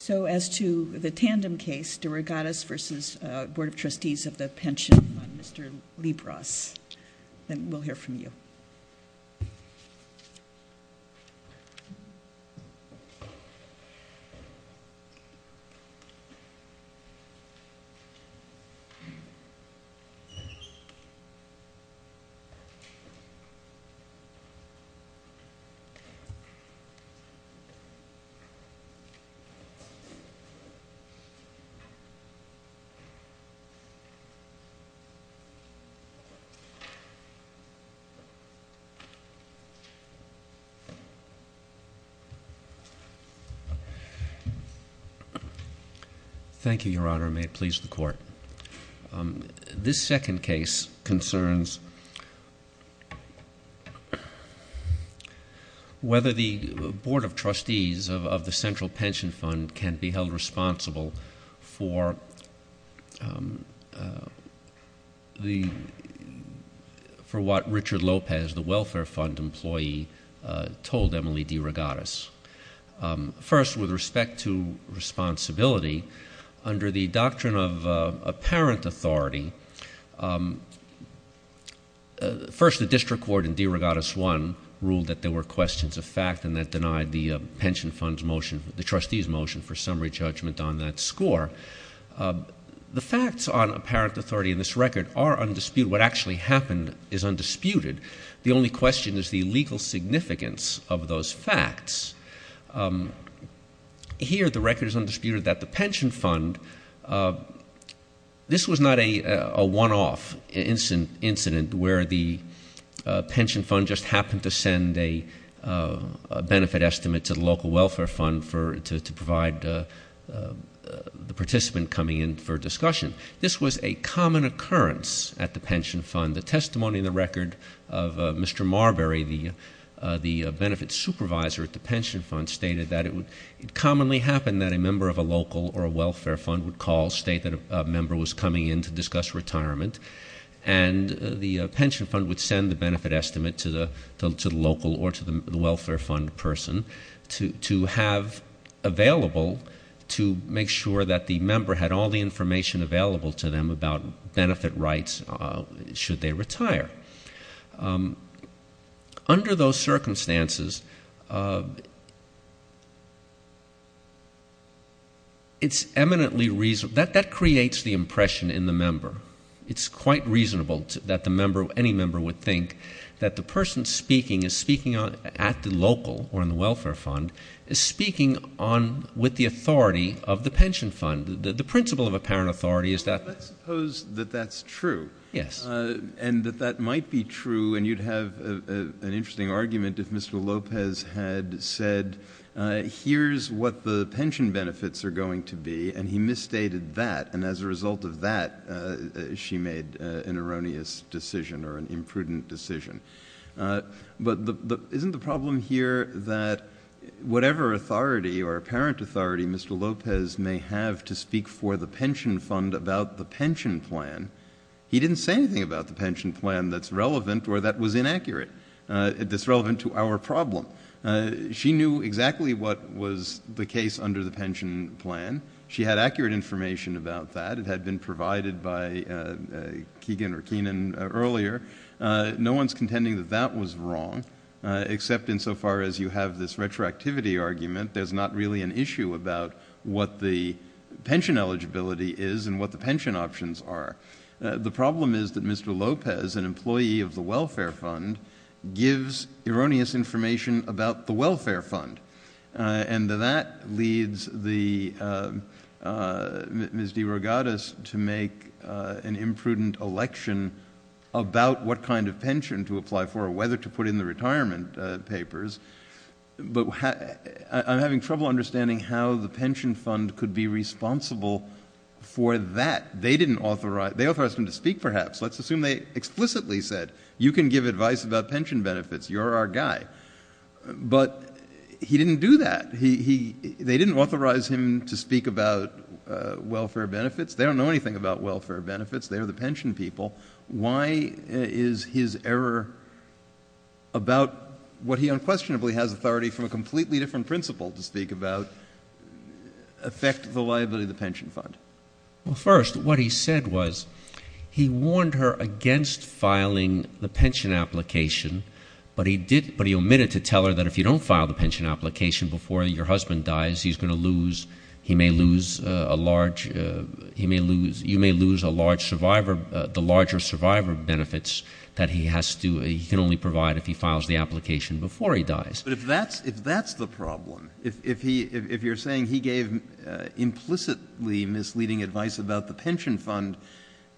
So as to the tandem case, Derogatis v. Board of Trustees of the pension on Mr. Libras. We'll hear from you. Thank you, Your Honor. May it please the Court. This second case concerns whether the Board of Trustees of the Central Pension Fund can be held responsible for what Richard Lopez, the Welfare Fund employee, told Emily Derogatis. First, with respect to responsibility, under the doctrine of apparent authority, first the district court in Derogatis I ruled that there were questions of fact and that denied the pension fund's motion, the trustee's motion for summary judgment on that score. The facts on apparent authority in this record are undisputed. What actually happened is undisputed. The only question is the legal significance of those facts. Here the record is undisputed that the pension fund, this was not a one-off incident where the pension fund just happened to send a benefit estimate to the local welfare fund to provide the participant coming in for discussion. This was a common occurrence at the pension fund. The testimony in the record of Mr. Marbury, the benefit supervisor at the pension fund, stated that it commonly happened that a member of a local or a welfare fund would call, state that a member was coming in to discuss retirement, and the pension fund would send the benefit estimate to the local or to the welfare fund person to have available to make sure that the member had all the information available to them about benefit rights should they retire. Under those circumstances, it's eminently reasonable. That creates the impression in the member. It's quite reasonable that the member, any member would think that the person speaking is speaking at the local or in the welfare fund is speaking on with the authority of the pension fund. The principle of apparent authority is that. Let's suppose that that's true. Yes. And that that might be true, and you'd have an interesting argument if Mr. Lopez had said, here's what the pension benefits are going to be, and he misstated that, and as a result of that, she made an erroneous decision or an imprudent decision. But isn't the problem here that whatever authority or apparent authority Mr. Lopez may have to speak for the pension fund about the pension plan, he didn't say anything about the pension plan that's relevant or that was inaccurate, that's relevant to our problem. She knew exactly what was the case under the pension plan. She had accurate information about that. It had been provided by Keegan or Keenan earlier. No one's contending that that was wrong, except insofar as you have this retroactivity argument, there's not really an issue about what the pension eligibility is and what the pension options are. The problem is that Mr. Lopez, an employee of the welfare fund, gives erroneous information about the welfare fund, and that leads Ms. DeRogatis to make an imprudent election about what kind of pension to apply for or whether to put in the retirement papers. But I'm having trouble understanding how the pension fund could be responsible for that. They authorized him to speak, perhaps. Let's assume they explicitly said, you can give advice about pension benefits. You're our guy. But he didn't do that. They didn't authorize him to speak about welfare benefits. They don't know anything about welfare benefits. They are the pension people. Why is his error about what he unquestionably has authority from a completely different principle to speak about affect the liability of the pension fund? Well, first, what he said was he warned her against filing the pension application, but he omitted to tell her that if you don't file the pension application before your husband dies, he's going to lose — that he has to — he can only provide if he files the application before he dies. But if that's the problem, if you're saying he gave implicitly misleading advice about the pension fund,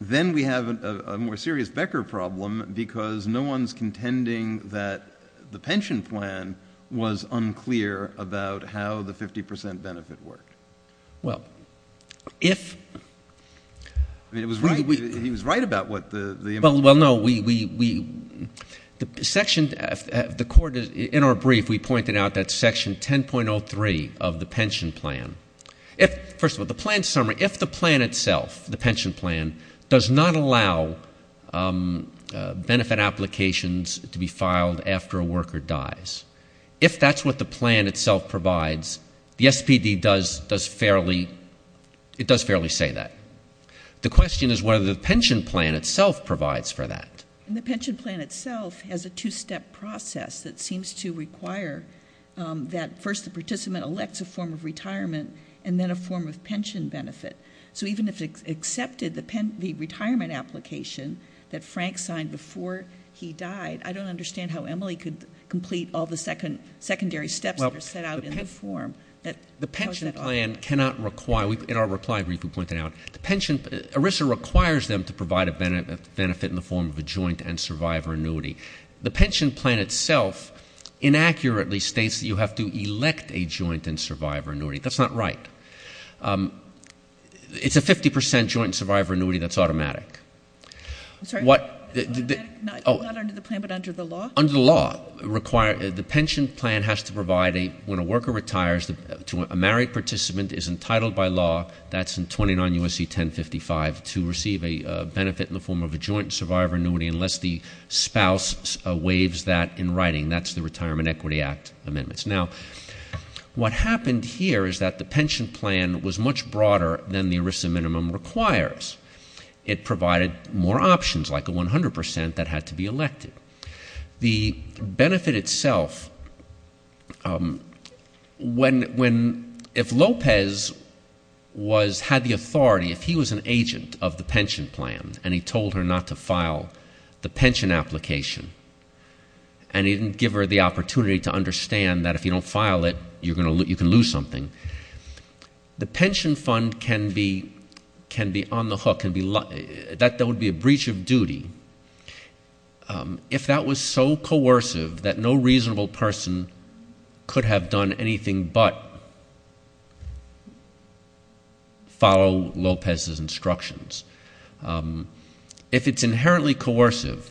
then we have a more serious Becker problem because no one's contending that the pension plan was unclear about how the 50 percent benefit worked. Well, if — He was right about what the — Well, no, we — the section — the court, in our brief, we pointed out that section 10.03 of the pension plan. First of all, the plan summary, if the plan itself, the pension plan, does not allow benefit applications to be filed after a worker dies, if that's what the plan itself provides, the SPD does fairly — it does fairly say that. The question is whether the pension plan itself provides for that. And the pension plan itself has a two-step process that seems to require that first the participant elects a form of retirement and then a form of pension benefit. So even if it accepted the retirement application that Frank signed before he died, I don't understand how Emily could complete all the secondary steps that are set out in the form. The pension plan cannot require — in our reply brief, we pointed out the pension — ERISA requires them to provide a benefit in the form of a joint and survivor annuity. The pension plan itself inaccurately states that you have to elect a joint and survivor annuity. That's not right. It's a 50 percent joint and survivor annuity that's automatic. I'm sorry? What — Not under the plan but under the law? Under the law, the pension plan has to provide a — when a worker retires, a married participant is entitled by law — that's in 29 U.S.C. 1055 — to receive a benefit in the form of a joint and survivor annuity unless the spouse waives that in writing. That's the Retirement Equity Act amendments. Now, what happened here is that the pension plan was much broader than the ERISA minimum requires. It provided more options like a 100 percent that had to be elected. The benefit itself, when — if Lopez was — had the authority, if he was an agent of the pension plan and he told her not to file the pension application and he didn't give her the opportunity to understand that if you don't file it, you're going to — you can lose something, the pension fund can be on the hook and be — that would be a breach of duty. If that was so coercive that no reasonable person could have done anything but follow Lopez's instructions, if it's inherently coercive,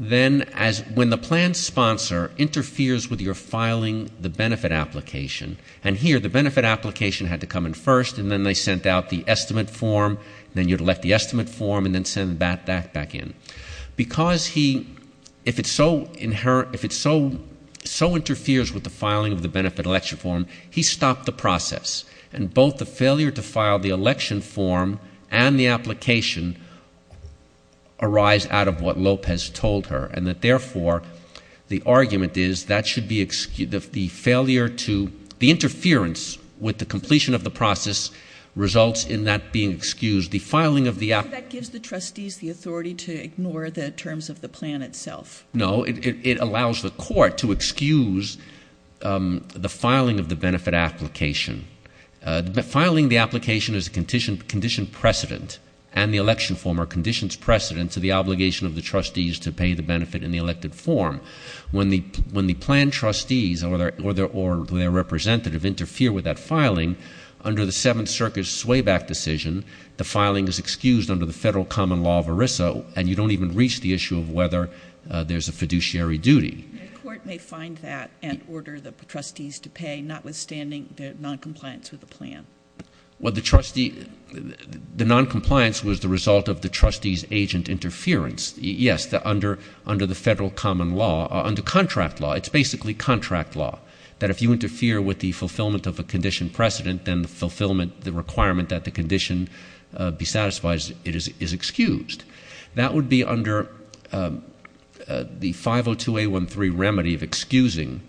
then as — when the plan sponsor interferes with your filing the benefit application and here the benefit application had to come in first and then they sent out the estimate form, then you'd elect the estimate form and then send that back in. Because he — if it's so inherent — if it's so — so interferes with the filing of the benefit election form, he stopped the process and both the failure to file the election form and the application arise out of what Lopez told her and that therefore the argument is that should be — the failure to — the interference with the completion of the process results in that being excused. The filing of the — But that gives the trustees the authority to ignore the terms of the plan itself. No, it allows the court to excuse the filing of the benefit application. Filing the application is a condition precedent and the election form are conditions precedent to the obligation of the trustees to pay the benefit in the elected form. When the plan trustees or their representative interfere with that filing, under the Seventh Circuit's swayback decision, the filing is excused under the federal common law of ERISA and you don't even reach the issue of whether there's a fiduciary duty. The court may find that and order the trustees to pay notwithstanding their noncompliance with the plan. Well, the trustee — the noncompliance was the result of the trustee's agent interference. Yes, under the federal common law — under contract law. It's basically contract law that if you interfere with the fulfillment of a condition precedent, then the fulfillment — the requirement that the condition be satisfied is excused. That would be under the 502A13 remedy of excusing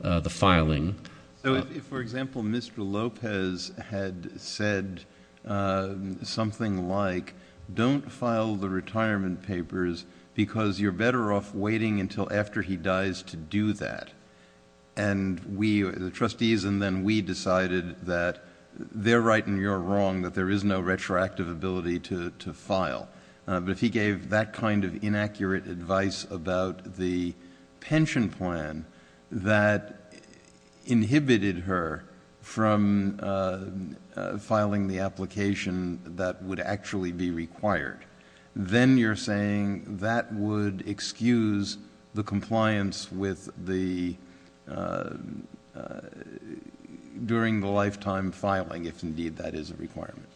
the filing. So if, for example, Mr. Lopez had said something like, don't file the retirement papers because you're better off waiting until after he dies to do that, and we — the trustees and then we decided that they're right and you're wrong, that there is no retroactive ability to file, but if he gave that kind of inaccurate advice about the pension plan that inhibited her from filing the application that would actually be required, then you're saying that would excuse the compliance with the — during the lifetime filing, if indeed that is a requirement.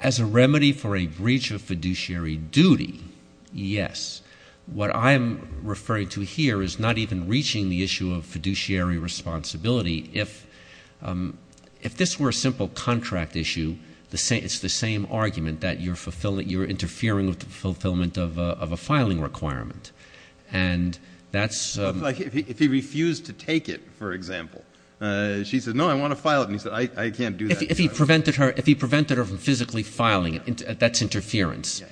As a remedy for a breach of fiduciary duty, yes. What I'm referring to here is not even reaching the issue of fiduciary responsibility. If this were a simple contract issue, it's the same argument that you're fulfilling — you're interfering with the fulfillment of a filing requirement, and that's — Like if he refused to take it, for example. She said, no, I want to file it, and he said, I can't do that. If he prevented her from physically filing it, that's interference.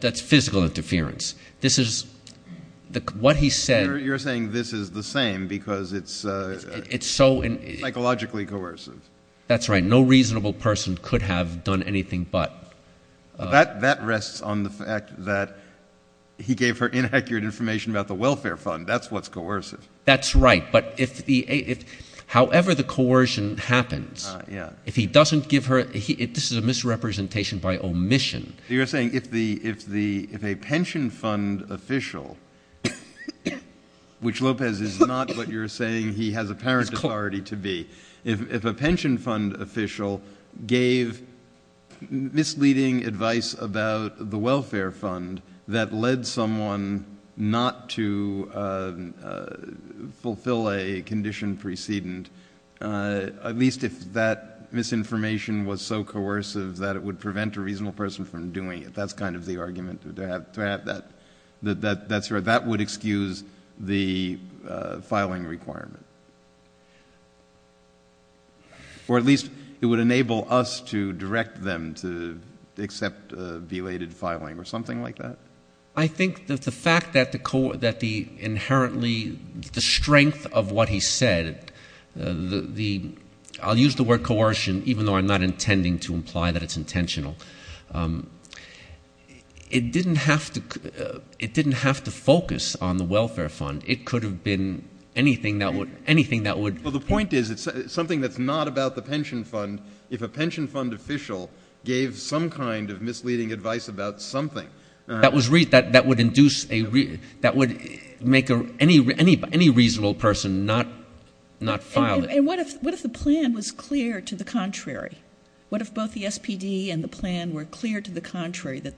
That's physical interference. This is — what he said — You're saying this is the same because it's — It's psychologically coercive. That's right. No reasonable person could have done anything but. That rests on the fact that he gave her inaccurate information about the welfare fund. That's what's coercive. That's right, but if the — however the coercion happens, if he doesn't give her — this is a misrepresentation by omission. You're saying if a pension fund official, which Lopez is not, but you're saying he has apparent authority to be, if a pension fund official gave misleading advice about the welfare fund that led someone not to fulfill a condition precedent, at least if that misinformation was so coercive that it would prevent a reasonable person from doing it, that's kind of the argument to have that. That's right. That would excuse the filing requirement. Or at least it would enable us to direct them to accept belated filing or something like that? I think that the fact that the inherently — the strength of what he said, the — I'll use the word coercion even though I'm not intending to imply that it's intentional. It didn't have to focus on the welfare fund. It could have been anything that would — Well, the point is it's something that's not about the pension fund. If a pension fund official gave some kind of misleading advice about something — That would induce a — that would make any reasonable person not file it. And what if the plan was clear to the contrary? What if both the SPD and the plan were clear to the contrary that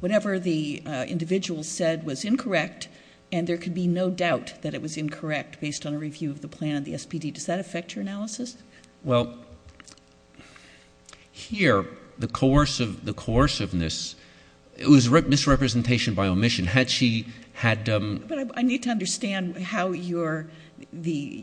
whatever the individual said was incorrect and there could be no doubt that it was incorrect based on a review of the plan of the SPD? Does that affect your analysis? Well, here the coerciveness — it was misrepresentation by omission. Had she had — But I need to understand how your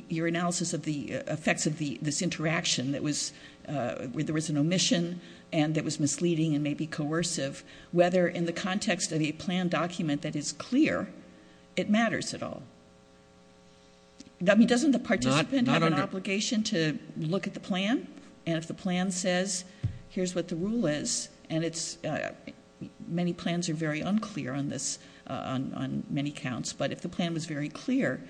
analysis of the effects of this interaction that was — where there was an omission and it was misleading and maybe coercive, whether in the context of a plan document that is clear it matters at all. I mean, doesn't the participant have an obligation to look at the plan? And if the plan says, here's what the rule is, and it's — many plans are very unclear on this, on many counts. But if the plan was very clear,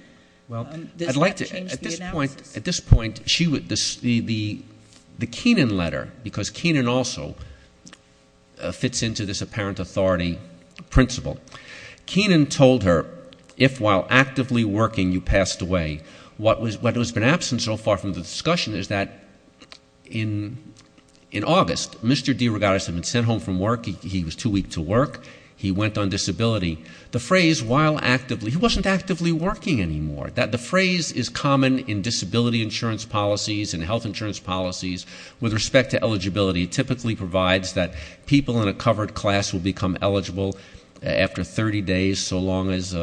does that change the analysis? Well, I'd like to — at this point, she would — the Keenan letter, because Keenan also fits into this apparent authority principle. Keenan told her, if while actively working you passed away, what has been absent so far from the discussion is that in August, Mr. DeRogatis had been sent home from work. He was too weak to work. He went on disability. The phrase, while actively — he wasn't actively working anymore. The phrase is common in disability insurance policies and health insurance policies with respect to eligibility. It typically provides that people in a covered class will become eligible after 30 days, so long as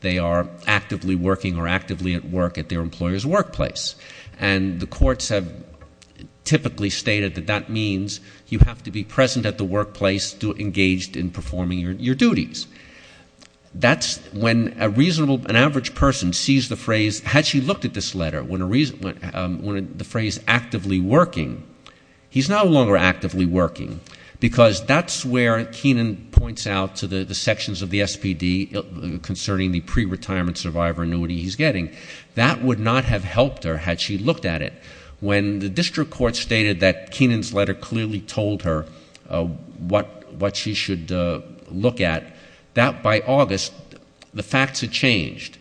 they are actively working or actively at work at their employer's workplace. And the courts have typically stated that that means you have to be present at the workplace engaged in performing your duties. That's when a reasonable — an average person sees the phrase — had she looked at this letter, when the phrase actively working, he's no longer actively working, because that's where Keenan points out to the sections of the SPD concerning the pre-retirement survivor annuity he's getting. That would not have helped her had she looked at it. When the district court stated that Keenan's letter clearly told her what she should look at, that by August, the facts had changed.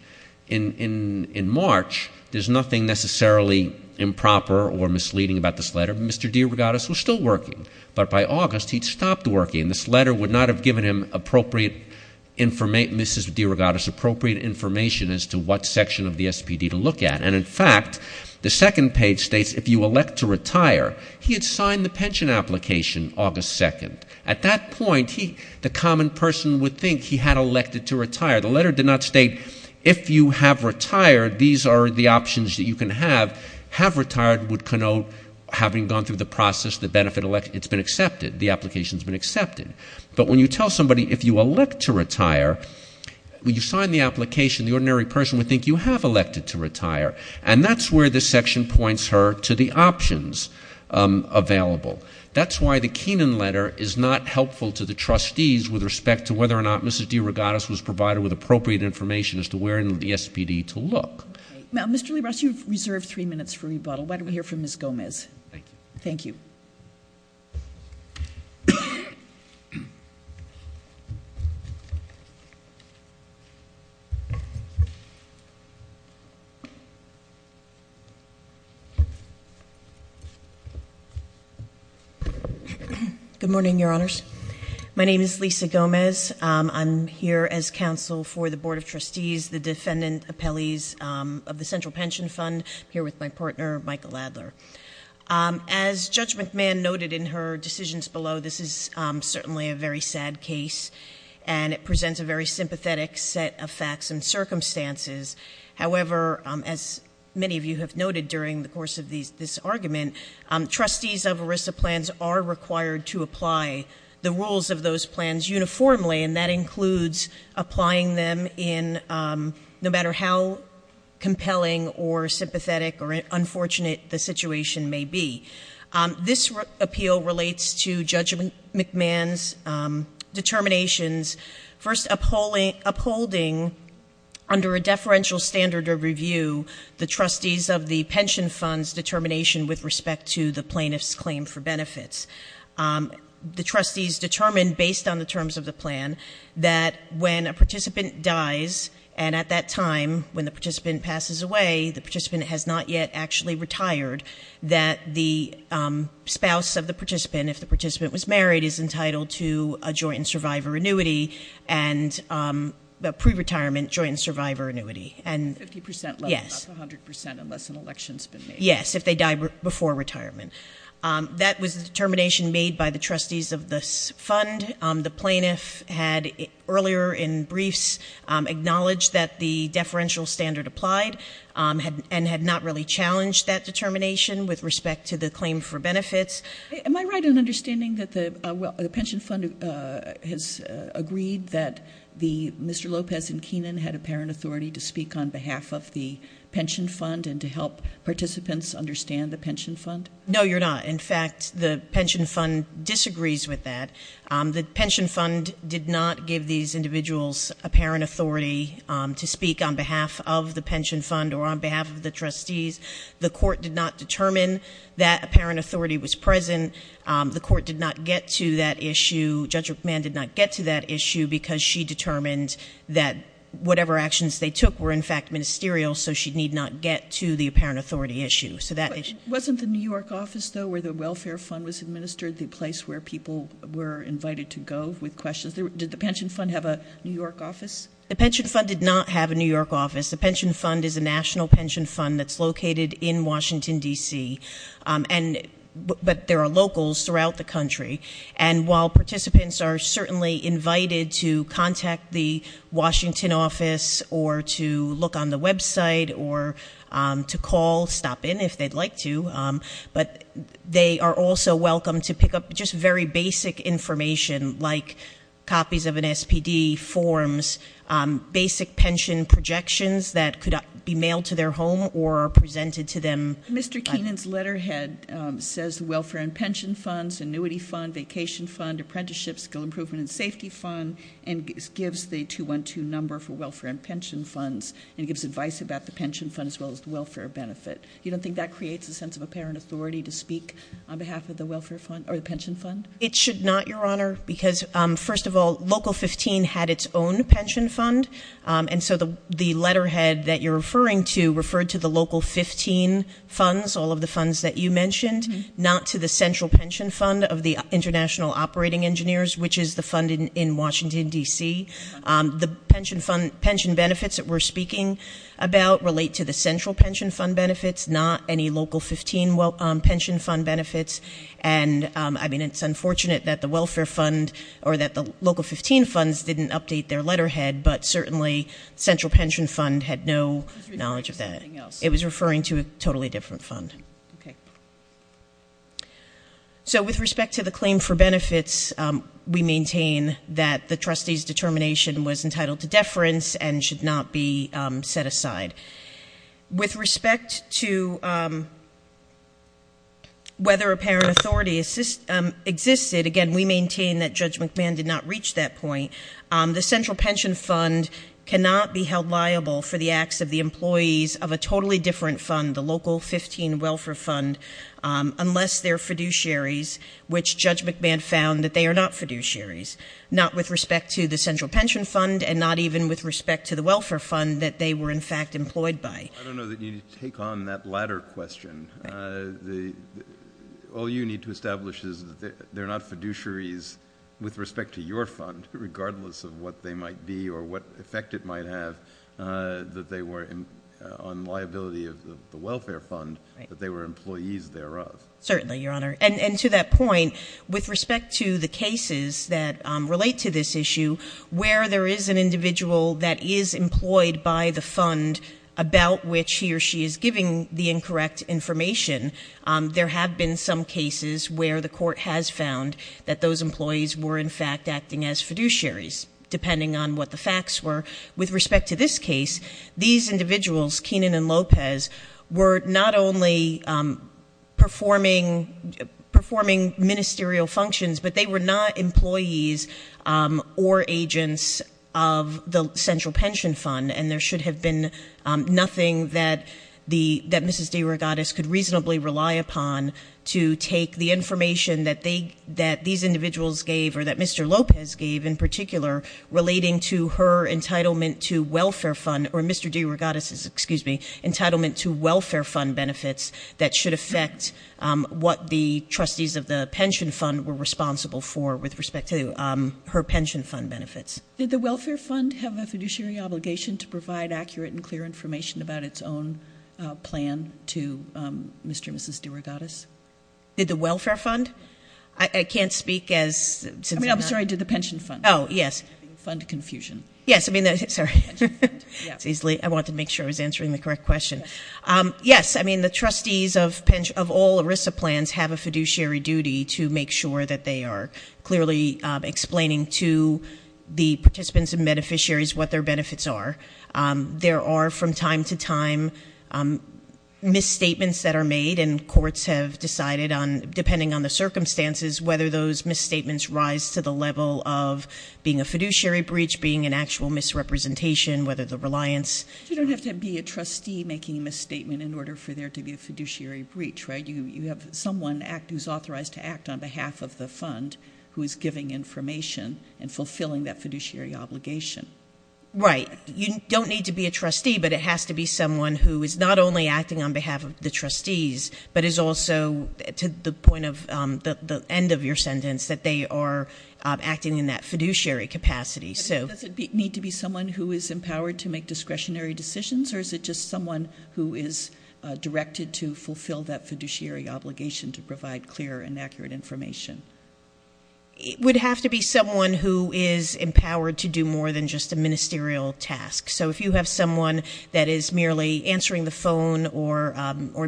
In March, there's nothing necessarily improper or misleading about this letter. Mr. DeRogatis was still working. But by August, he'd stopped working. This letter would not have given him appropriate — Mrs. DeRogatis appropriate information as to what section of the SPD to look at. And, in fact, the second page states, if you elect to retire, he had signed the pension application August 2nd. At that point, the common person would think he had elected to retire. The letter did not state, if you have retired, these are the options that you can have. Have retired would connote having gone through the process, the benefit — it's been accepted. The application's been accepted. But when you tell somebody, if you elect to retire, when you sign the application, the ordinary person would think you have elected to retire. And that's where this section points her to the options available. That's why the Keenan letter is not helpful to the trustees with respect to whether or not Mrs. DeRogatis was provided with appropriate information as to where in the SPD to look. Now, Mr. Lee Ross, you've reserved three minutes for rebuttal. Why don't we hear from Ms. Gomez? Thank you. Thank you. Good morning, Your Honors. My name is Lisa Gomez. I'm here as counsel for the Board of Trustees, the defendant appellees of the Central Pension Fund. I'm here with my partner, Michael Adler. As Judge McMahon noted in her decisions below, this is certainly a very sad case, and it presents a very sympathetic set of facts and circumstances. However, as many of you have noted during the course of this argument, trustees of ERISA plans are required to apply the rules of those plans uniformly, and that includes applying them in no matter how compelling or sympathetic or unfortunate the situation may be. This appeal relates to Judge McMahon's determinations, first upholding under a deferential standard of review the trustees of the pension fund's determination with respect to the plaintiff's claim for benefits. The trustees determined, based on the terms of the plan, that when a participant dies and at that time, when the participant passes away, the participant has not yet actually retired, that the spouse of the participant, if the participant was married, is entitled to a joint and survivor annuity and a pre-retirement joint and survivor annuity. 50% level, not 100% unless an election's been made. Yes, if they die before retirement. That was the determination made by the trustees of this fund. The plaintiff had earlier in briefs acknowledged that the deferential standard applied and had not really challenged that determination with respect to the claim for benefits. Am I right in understanding that the pension fund has agreed that Mr. Lopez and Keenan had apparent authority to speak on behalf of the pension fund and to help participants understand the pension fund? No, you're not. In fact, the pension fund disagrees with that. The pension fund did not give these individuals apparent authority to speak on behalf of the pension fund or on behalf of the trustees. The court did not determine that apparent authority was present. The court did not get to that issue. Judge McMahon did not get to that issue because she determined that whatever actions they took were, in fact, ministerial, so she need not get to the apparent authority issue. Wasn't the New York office, though, where the welfare fund was administered the place where people were invited to go with questions? Did the pension fund have a New York office? The pension fund did not have a New York office. The pension fund is a national pension fund that's located in Washington, D.C., but there are locals throughout the country. And while participants are certainly invited to contact the Washington office or to look on the website or to call, stop in if they'd like to, but they are also welcome to pick up just very basic information like copies of an SPD forms, basic pension projections that could be mailed to their home or presented to them. Mr. Keenan's letterhead says the welfare and pension funds, annuity fund, vacation fund, apprenticeship skill improvement and safety fund, and gives the 212 number for welfare and pension funds, and gives advice about the pension fund as well as the welfare benefit. You don't think that creates a sense of apparent authority to speak on behalf of the pension fund? It should not, Your Honor, because, first of all, Local 15 had its own pension fund, and so the letterhead that you're referring to referred to the Local 15 funds, all of the funds that you mentioned, not to the central pension fund of the International Operating Engineers, which is the fund in Washington, D.C. The pension benefits that we're speaking about relate to the central pension fund benefits, not any Local 15 pension fund benefits. And, I mean, it's unfortunate that the welfare fund or that the Local 15 funds didn't update their letterhead, but certainly central pension fund had no knowledge of that. It was referring to a totally different fund. Okay. So with respect to the claim for benefits, we maintain that the trustee's determination was entitled to deference and should not be set aside. With respect to whether apparent authority existed, again, we maintain that Judge McMahon did not reach that point. The central pension fund cannot be held liable for the acts of the employees of a totally different fund, the Local 15 welfare fund, unless they're fiduciaries, which Judge McMahon found that they are not fiduciaries, not with respect to the central pension fund and not even with respect to the welfare fund that they were, in fact, employed by. I don't know that you need to take on that latter question. All you need to establish is that they're not fiduciaries with respect to your fund, regardless of what they might be or what effect it might have that they were on liability of the welfare fund, that they were employees thereof. Certainly, Your Honor. And to that point, with respect to the cases that relate to this issue, where there is an individual that is employed by the fund about which he or she is giving the incorrect information, there have been some cases where the court has found that those employees were, in fact, acting as fiduciaries, depending on what the facts were. With respect to this case, these individuals, Keenan and Lopez, were not only performing ministerial functions, but they were not employees or agents of the central pension fund. And there should have been nothing that Mrs. DeRogatis could reasonably rely upon to take the information that these individuals gave, or that Mr. Lopez gave in particular, relating to her entitlement to welfare fund, or Mr. DeRogatis's, excuse me, entitlement to welfare fund benefits that should affect what the trustees of the pension fund were responsible for, with respect to her pension fund benefits. Did the welfare fund have a fiduciary obligation to provide accurate and clear information about its own plan to Mr. and Mrs. DeRogatis? Did the welfare fund? I can't speak as since I'm not. I mean, I'm sorry, did the pension fund? Oh, yes. Fund confusion. Yes, I mean, sorry. I wanted to make sure I was answering the correct question. Yes, I mean, the trustees of all ERISA plans have a fiduciary duty to make sure that they are clearly explaining to the participants and beneficiaries what their benefits are. There are, from time to time, misstatements that are made, and courts have decided on, depending on the circumstances, whether those misstatements rise to the level of being a fiduciary breach, being an actual misrepresentation, whether the reliance. You don't have to be a trustee making a misstatement in order for there to be a fiduciary breach, right? You have someone who's authorized to act on behalf of the fund who is giving information and fulfilling that fiduciary obligation. Right. You don't need to be a trustee, but it has to be someone who is not only acting on behalf of the trustees, but is also, to the end of your sentence, that they are acting in that fiduciary capacity. Does it need to be someone who is empowered to make discretionary decisions, or is it just someone who is directed to fulfill that fiduciary obligation to provide clear and accurate information? It would have to be someone who is empowered to do more than just a ministerial task. So if you have someone that is merely answering the phone or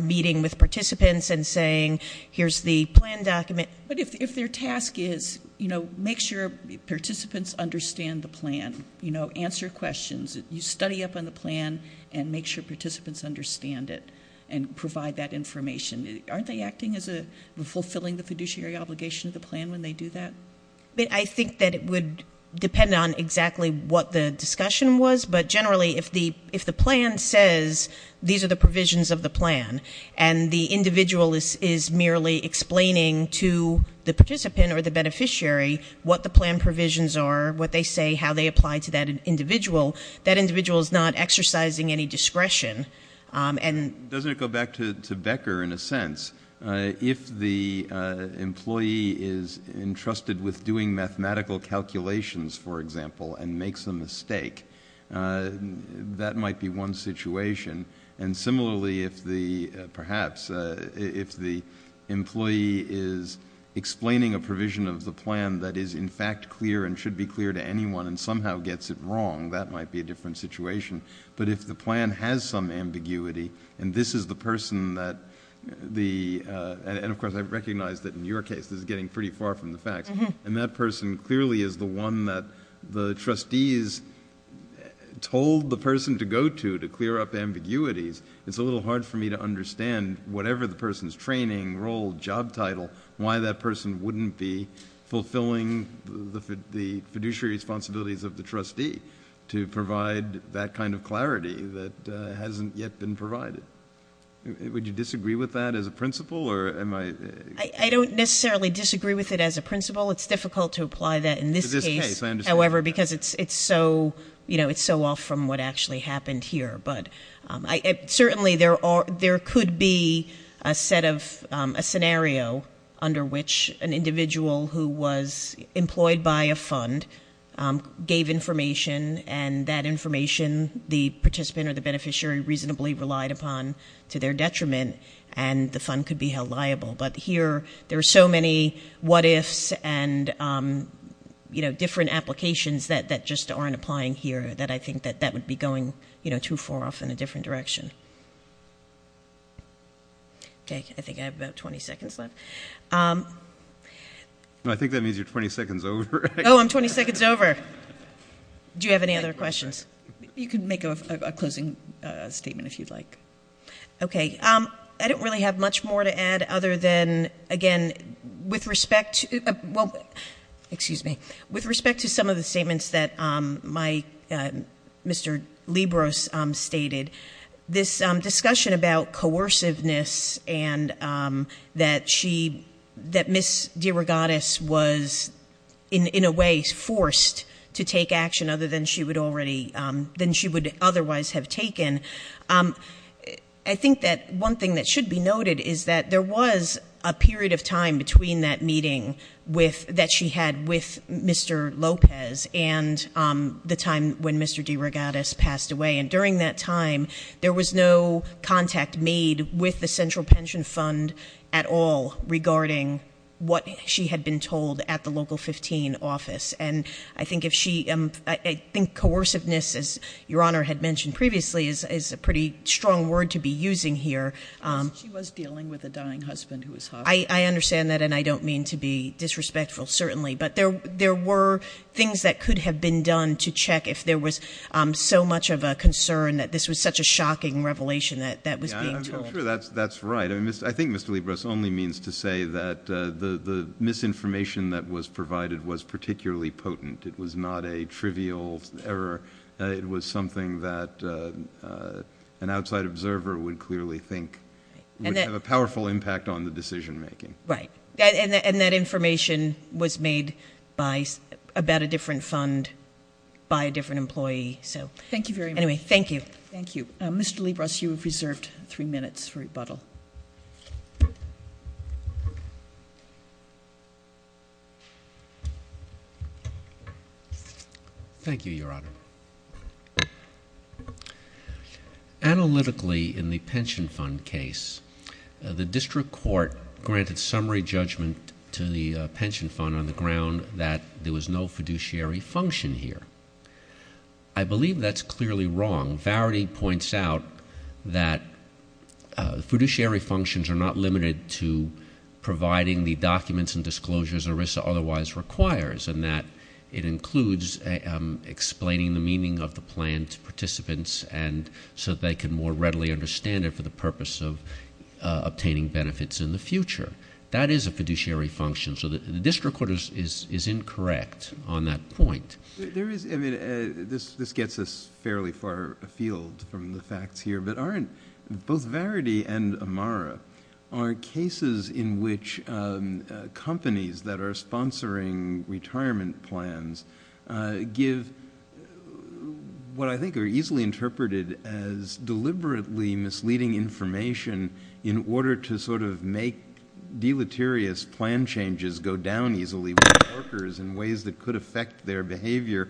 meeting with participants and saying, here's the plan document. But if their task is, you know, make sure participants understand the plan, you know, answer questions, you study up on the plan and make sure participants understand it and provide that information, aren't they acting as fulfilling the fiduciary obligation of the plan when they do that? I think that it would depend on exactly what the discussion was, but generally if the plan says these are the provisions of the plan and the individual is merely explaining to the participant or the beneficiary what the plan provisions are, what they say, how they apply to that individual, that individual is not exercising any discretion. Doesn't it go back to Becker in a sense? Yes. If the employee is entrusted with doing mathematical calculations, for example, and makes a mistake, that might be one situation. And similarly, if the employee is explaining a provision of the plan that is in fact clear and should be clear to anyone and somehow gets it wrong, that might be a different situation. But if the plan has some ambiguity and this is the person that the, and of course I recognize that in your case this is getting pretty far from the facts, and that person clearly is the one that the trustees told the person to go to to clear up ambiguities, it's a little hard for me to understand whatever the person's training, role, job title, why that person wouldn't be fulfilling the fiduciary responsibilities of the trustee to provide that kind of clarity that hasn't yet been provided. Would you disagree with that as a principle? I don't necessarily disagree with it as a principle. It's difficult to apply that in this case, however, because it's so off from what actually happened here. Certainly there could be a scenario under which an individual who was employed by a fund gave information and that information the participant or the beneficiary reasonably relied upon to their detriment, and the fund could be held liable. But here there are so many what-ifs and different applications that just aren't applying here that I think that that would be going too far off in a different direction. Okay, I think I have about 20 seconds left. I think that means you're 20 seconds over. Oh, I'm 20 seconds over. Do you have any other questions? You can make a closing statement if you'd like. Okay, I don't really have much more to add other than, again, with respect to some of the statements that Mr. Libros stated, this discussion about coerciveness and that Ms. DeRogatis was in a way forced to take action other than she would otherwise have taken, I think that one thing that should be noted is that there was a period of time between that meeting that she had with Mr. Lopez and the time when Mr. DeRogatis passed away, and during that time there was no contact made with the Central Pension Fund at all regarding what she had been told at the Local 15 office. And I think coerciveness, as Your Honor had mentioned previously, is a pretty strong word to be using here. She was dealing with a dying husband who was hospitalized. I understand that, and I don't mean to be disrespectful, certainly, but there were things that could have been done to check if there was so much of a concern that this was such a shocking revelation that was being told. I'm sure that's right. I think Mr. Libros only means to say that the misinformation that was provided was particularly potent. It was not a trivial error. It was something that an outside observer would clearly think would have a powerful impact on the decision-making. Right. And that information was made about a different fund by a different employee. Thank you very much. Anyway, thank you. Thank you. Mr. Libros, you have reserved three minutes for rebuttal. Thank you, Your Honor. Analytically, in the pension fund case, the district court granted summary judgment to the pension fund on the ground that there was no fiduciary function here. I believe that's clearly wrong. Varity points out that fiduciary functions are not limited to providing the documents and disclosures ERISA otherwise requires, and that it includes explaining the meaning of the plan to participants so that they can more readily understand it for the purpose of obtaining benefits in the future. That is a fiduciary function, so the district court is incorrect on that point. This gets us fairly far afield from the facts here, but both Varity and Amara are cases in which companies that are sponsoring retirement plans give what I think are easily interpreted as deliberately misleading information in order to sort of make deleterious plan changes go down easily with workers in ways that could affect their behavior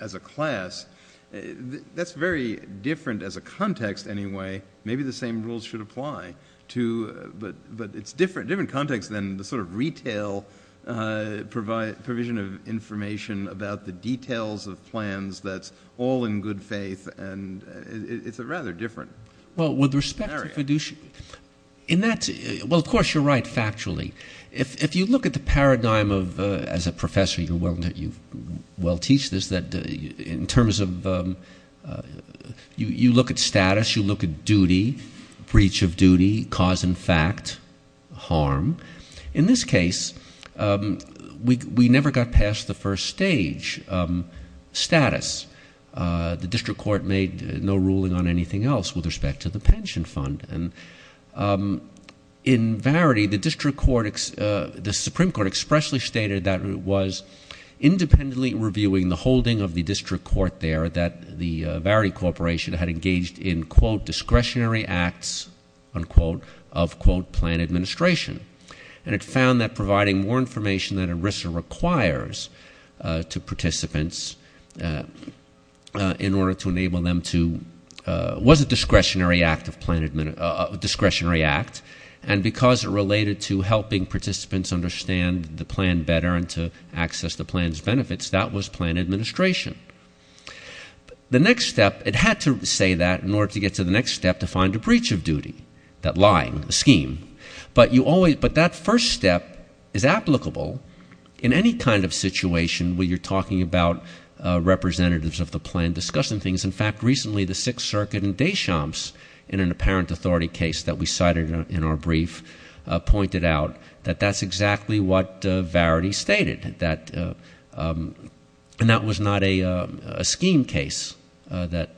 as a class. That's very different as a context anyway. Maybe the same rules should apply, but it's a different context than the sort of retail provision of information about the details of plans that's all in good faith, and it's rather different. Well, with respect to fiduciary – well, of course you're right factually. If you look at the paradigm of – as a professor, you well teach this, that in terms of – you look at status, you look at duty, breach of duty, cause and fact, harm. In this case, we never got past the first stage, status. The district court made no ruling on anything else with respect to the pension fund, and in Varity, the district court – the Supreme Court expressly stated that it was independently reviewing the holding of the district court there that the Varity Corporation had engaged in, quote, discretionary acts, unquote, of, quote, plan administration, and it found that providing more information than ERISA requires to participants in order to enable them to – was a discretionary act of plan – a discretionary act, and because it related to helping participants understand the plan better and to access the plan's benefits, that was plan administration. The next step – it had to say that in order to get to the next step to find a breach of duty, that lying scheme, but you always – but that first step is applicable in any kind of situation where you're talking about representatives of the plan discussing things. In fact, recently, the Sixth Circuit in Deschamps in an apparent authority case that we cited in our brief pointed out that that's exactly what Varity stated, that – and that was not a scheme case. That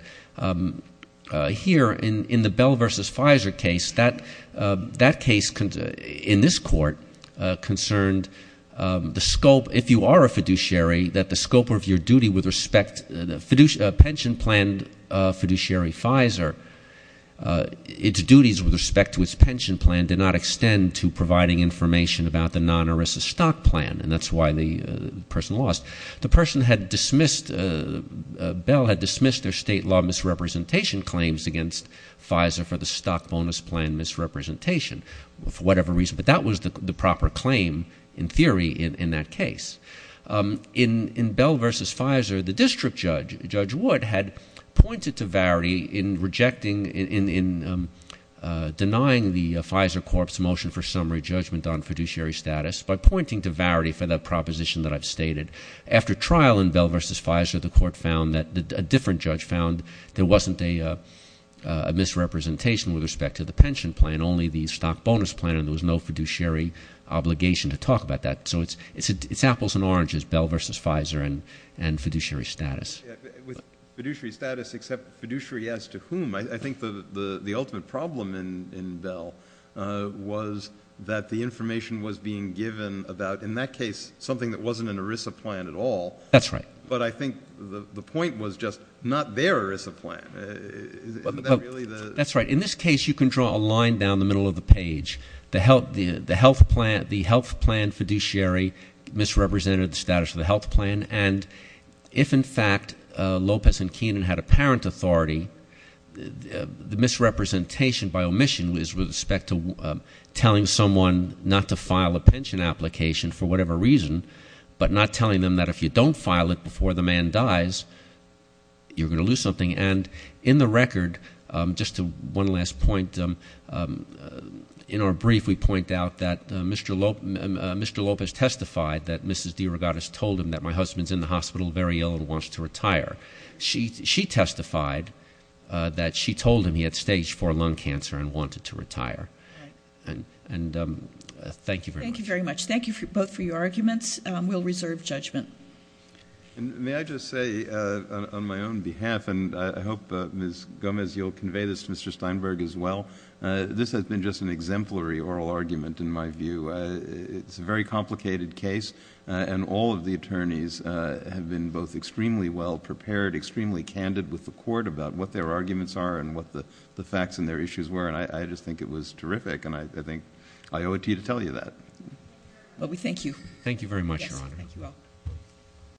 here in the Bell versus Pfizer case, that case in this court concerned the scope – if you are a fiduciary, that the scope of your duty with respect – pension plan fiduciary Pfizer, its duties with respect to its pension plan did not extend to providing information about the non-ERISA stock plan, and that's why the person lost. The person had dismissed – Bell had dismissed their state law misrepresentation claims against Pfizer for the stock bonus plan misrepresentation for whatever reason, but that was the proper claim in theory in that case. In Bell versus Pfizer, the district judge, Judge Wood, had pointed to Varity in rejecting – in denying the Pfizer corpse motion for summary judgment on fiduciary status by pointing to Varity for that proposition that I've stated. After trial in Bell versus Pfizer, the court found that – a different judge found there wasn't a misrepresentation with respect to the pension plan, only the stock bonus plan, and there was no fiduciary obligation to talk about that. So it's apples and oranges, Bell versus Pfizer and fiduciary status. With fiduciary status except fiduciary as to whom? I think the ultimate problem in Bell was that the information was being given about, in that case, something that wasn't an ERISA plan at all. That's right. But I think the point was just not their ERISA plan. Isn't that really the – That's right. In this case, you can draw a line down the middle of the page. The health plan fiduciary misrepresented the status of the health plan. And if, in fact, Lopez and Keenan had apparent authority, the misrepresentation by omission is with respect to telling someone not to file a pension application for whatever reason, but not telling them that if you don't file it before the man dies, you're going to lose something. And in the record, just one last point. In our brief, we point out that Mr. Lopez testified that Mrs. DeRogatis told him that my husband's in the hospital, very ill, and wants to retire. She testified that she told him he had stage IV lung cancer and wanted to retire. And thank you very much. Thank you very much. Thank you both for your arguments. We'll reserve judgment. May I just say, on my own behalf, and I hope, Ms. Gomez, you'll convey this to Mr. Steinberg as well, this has been just an exemplary oral argument in my view. It's a very complicated case, and all of the attorneys have been both extremely well prepared, extremely candid with the court about what their arguments are and what the facts and their issues were, and I just think it was terrific, and I think I owe it to you to tell you that. Well, we thank you. Thank you very much, Your Honor. Thank you all.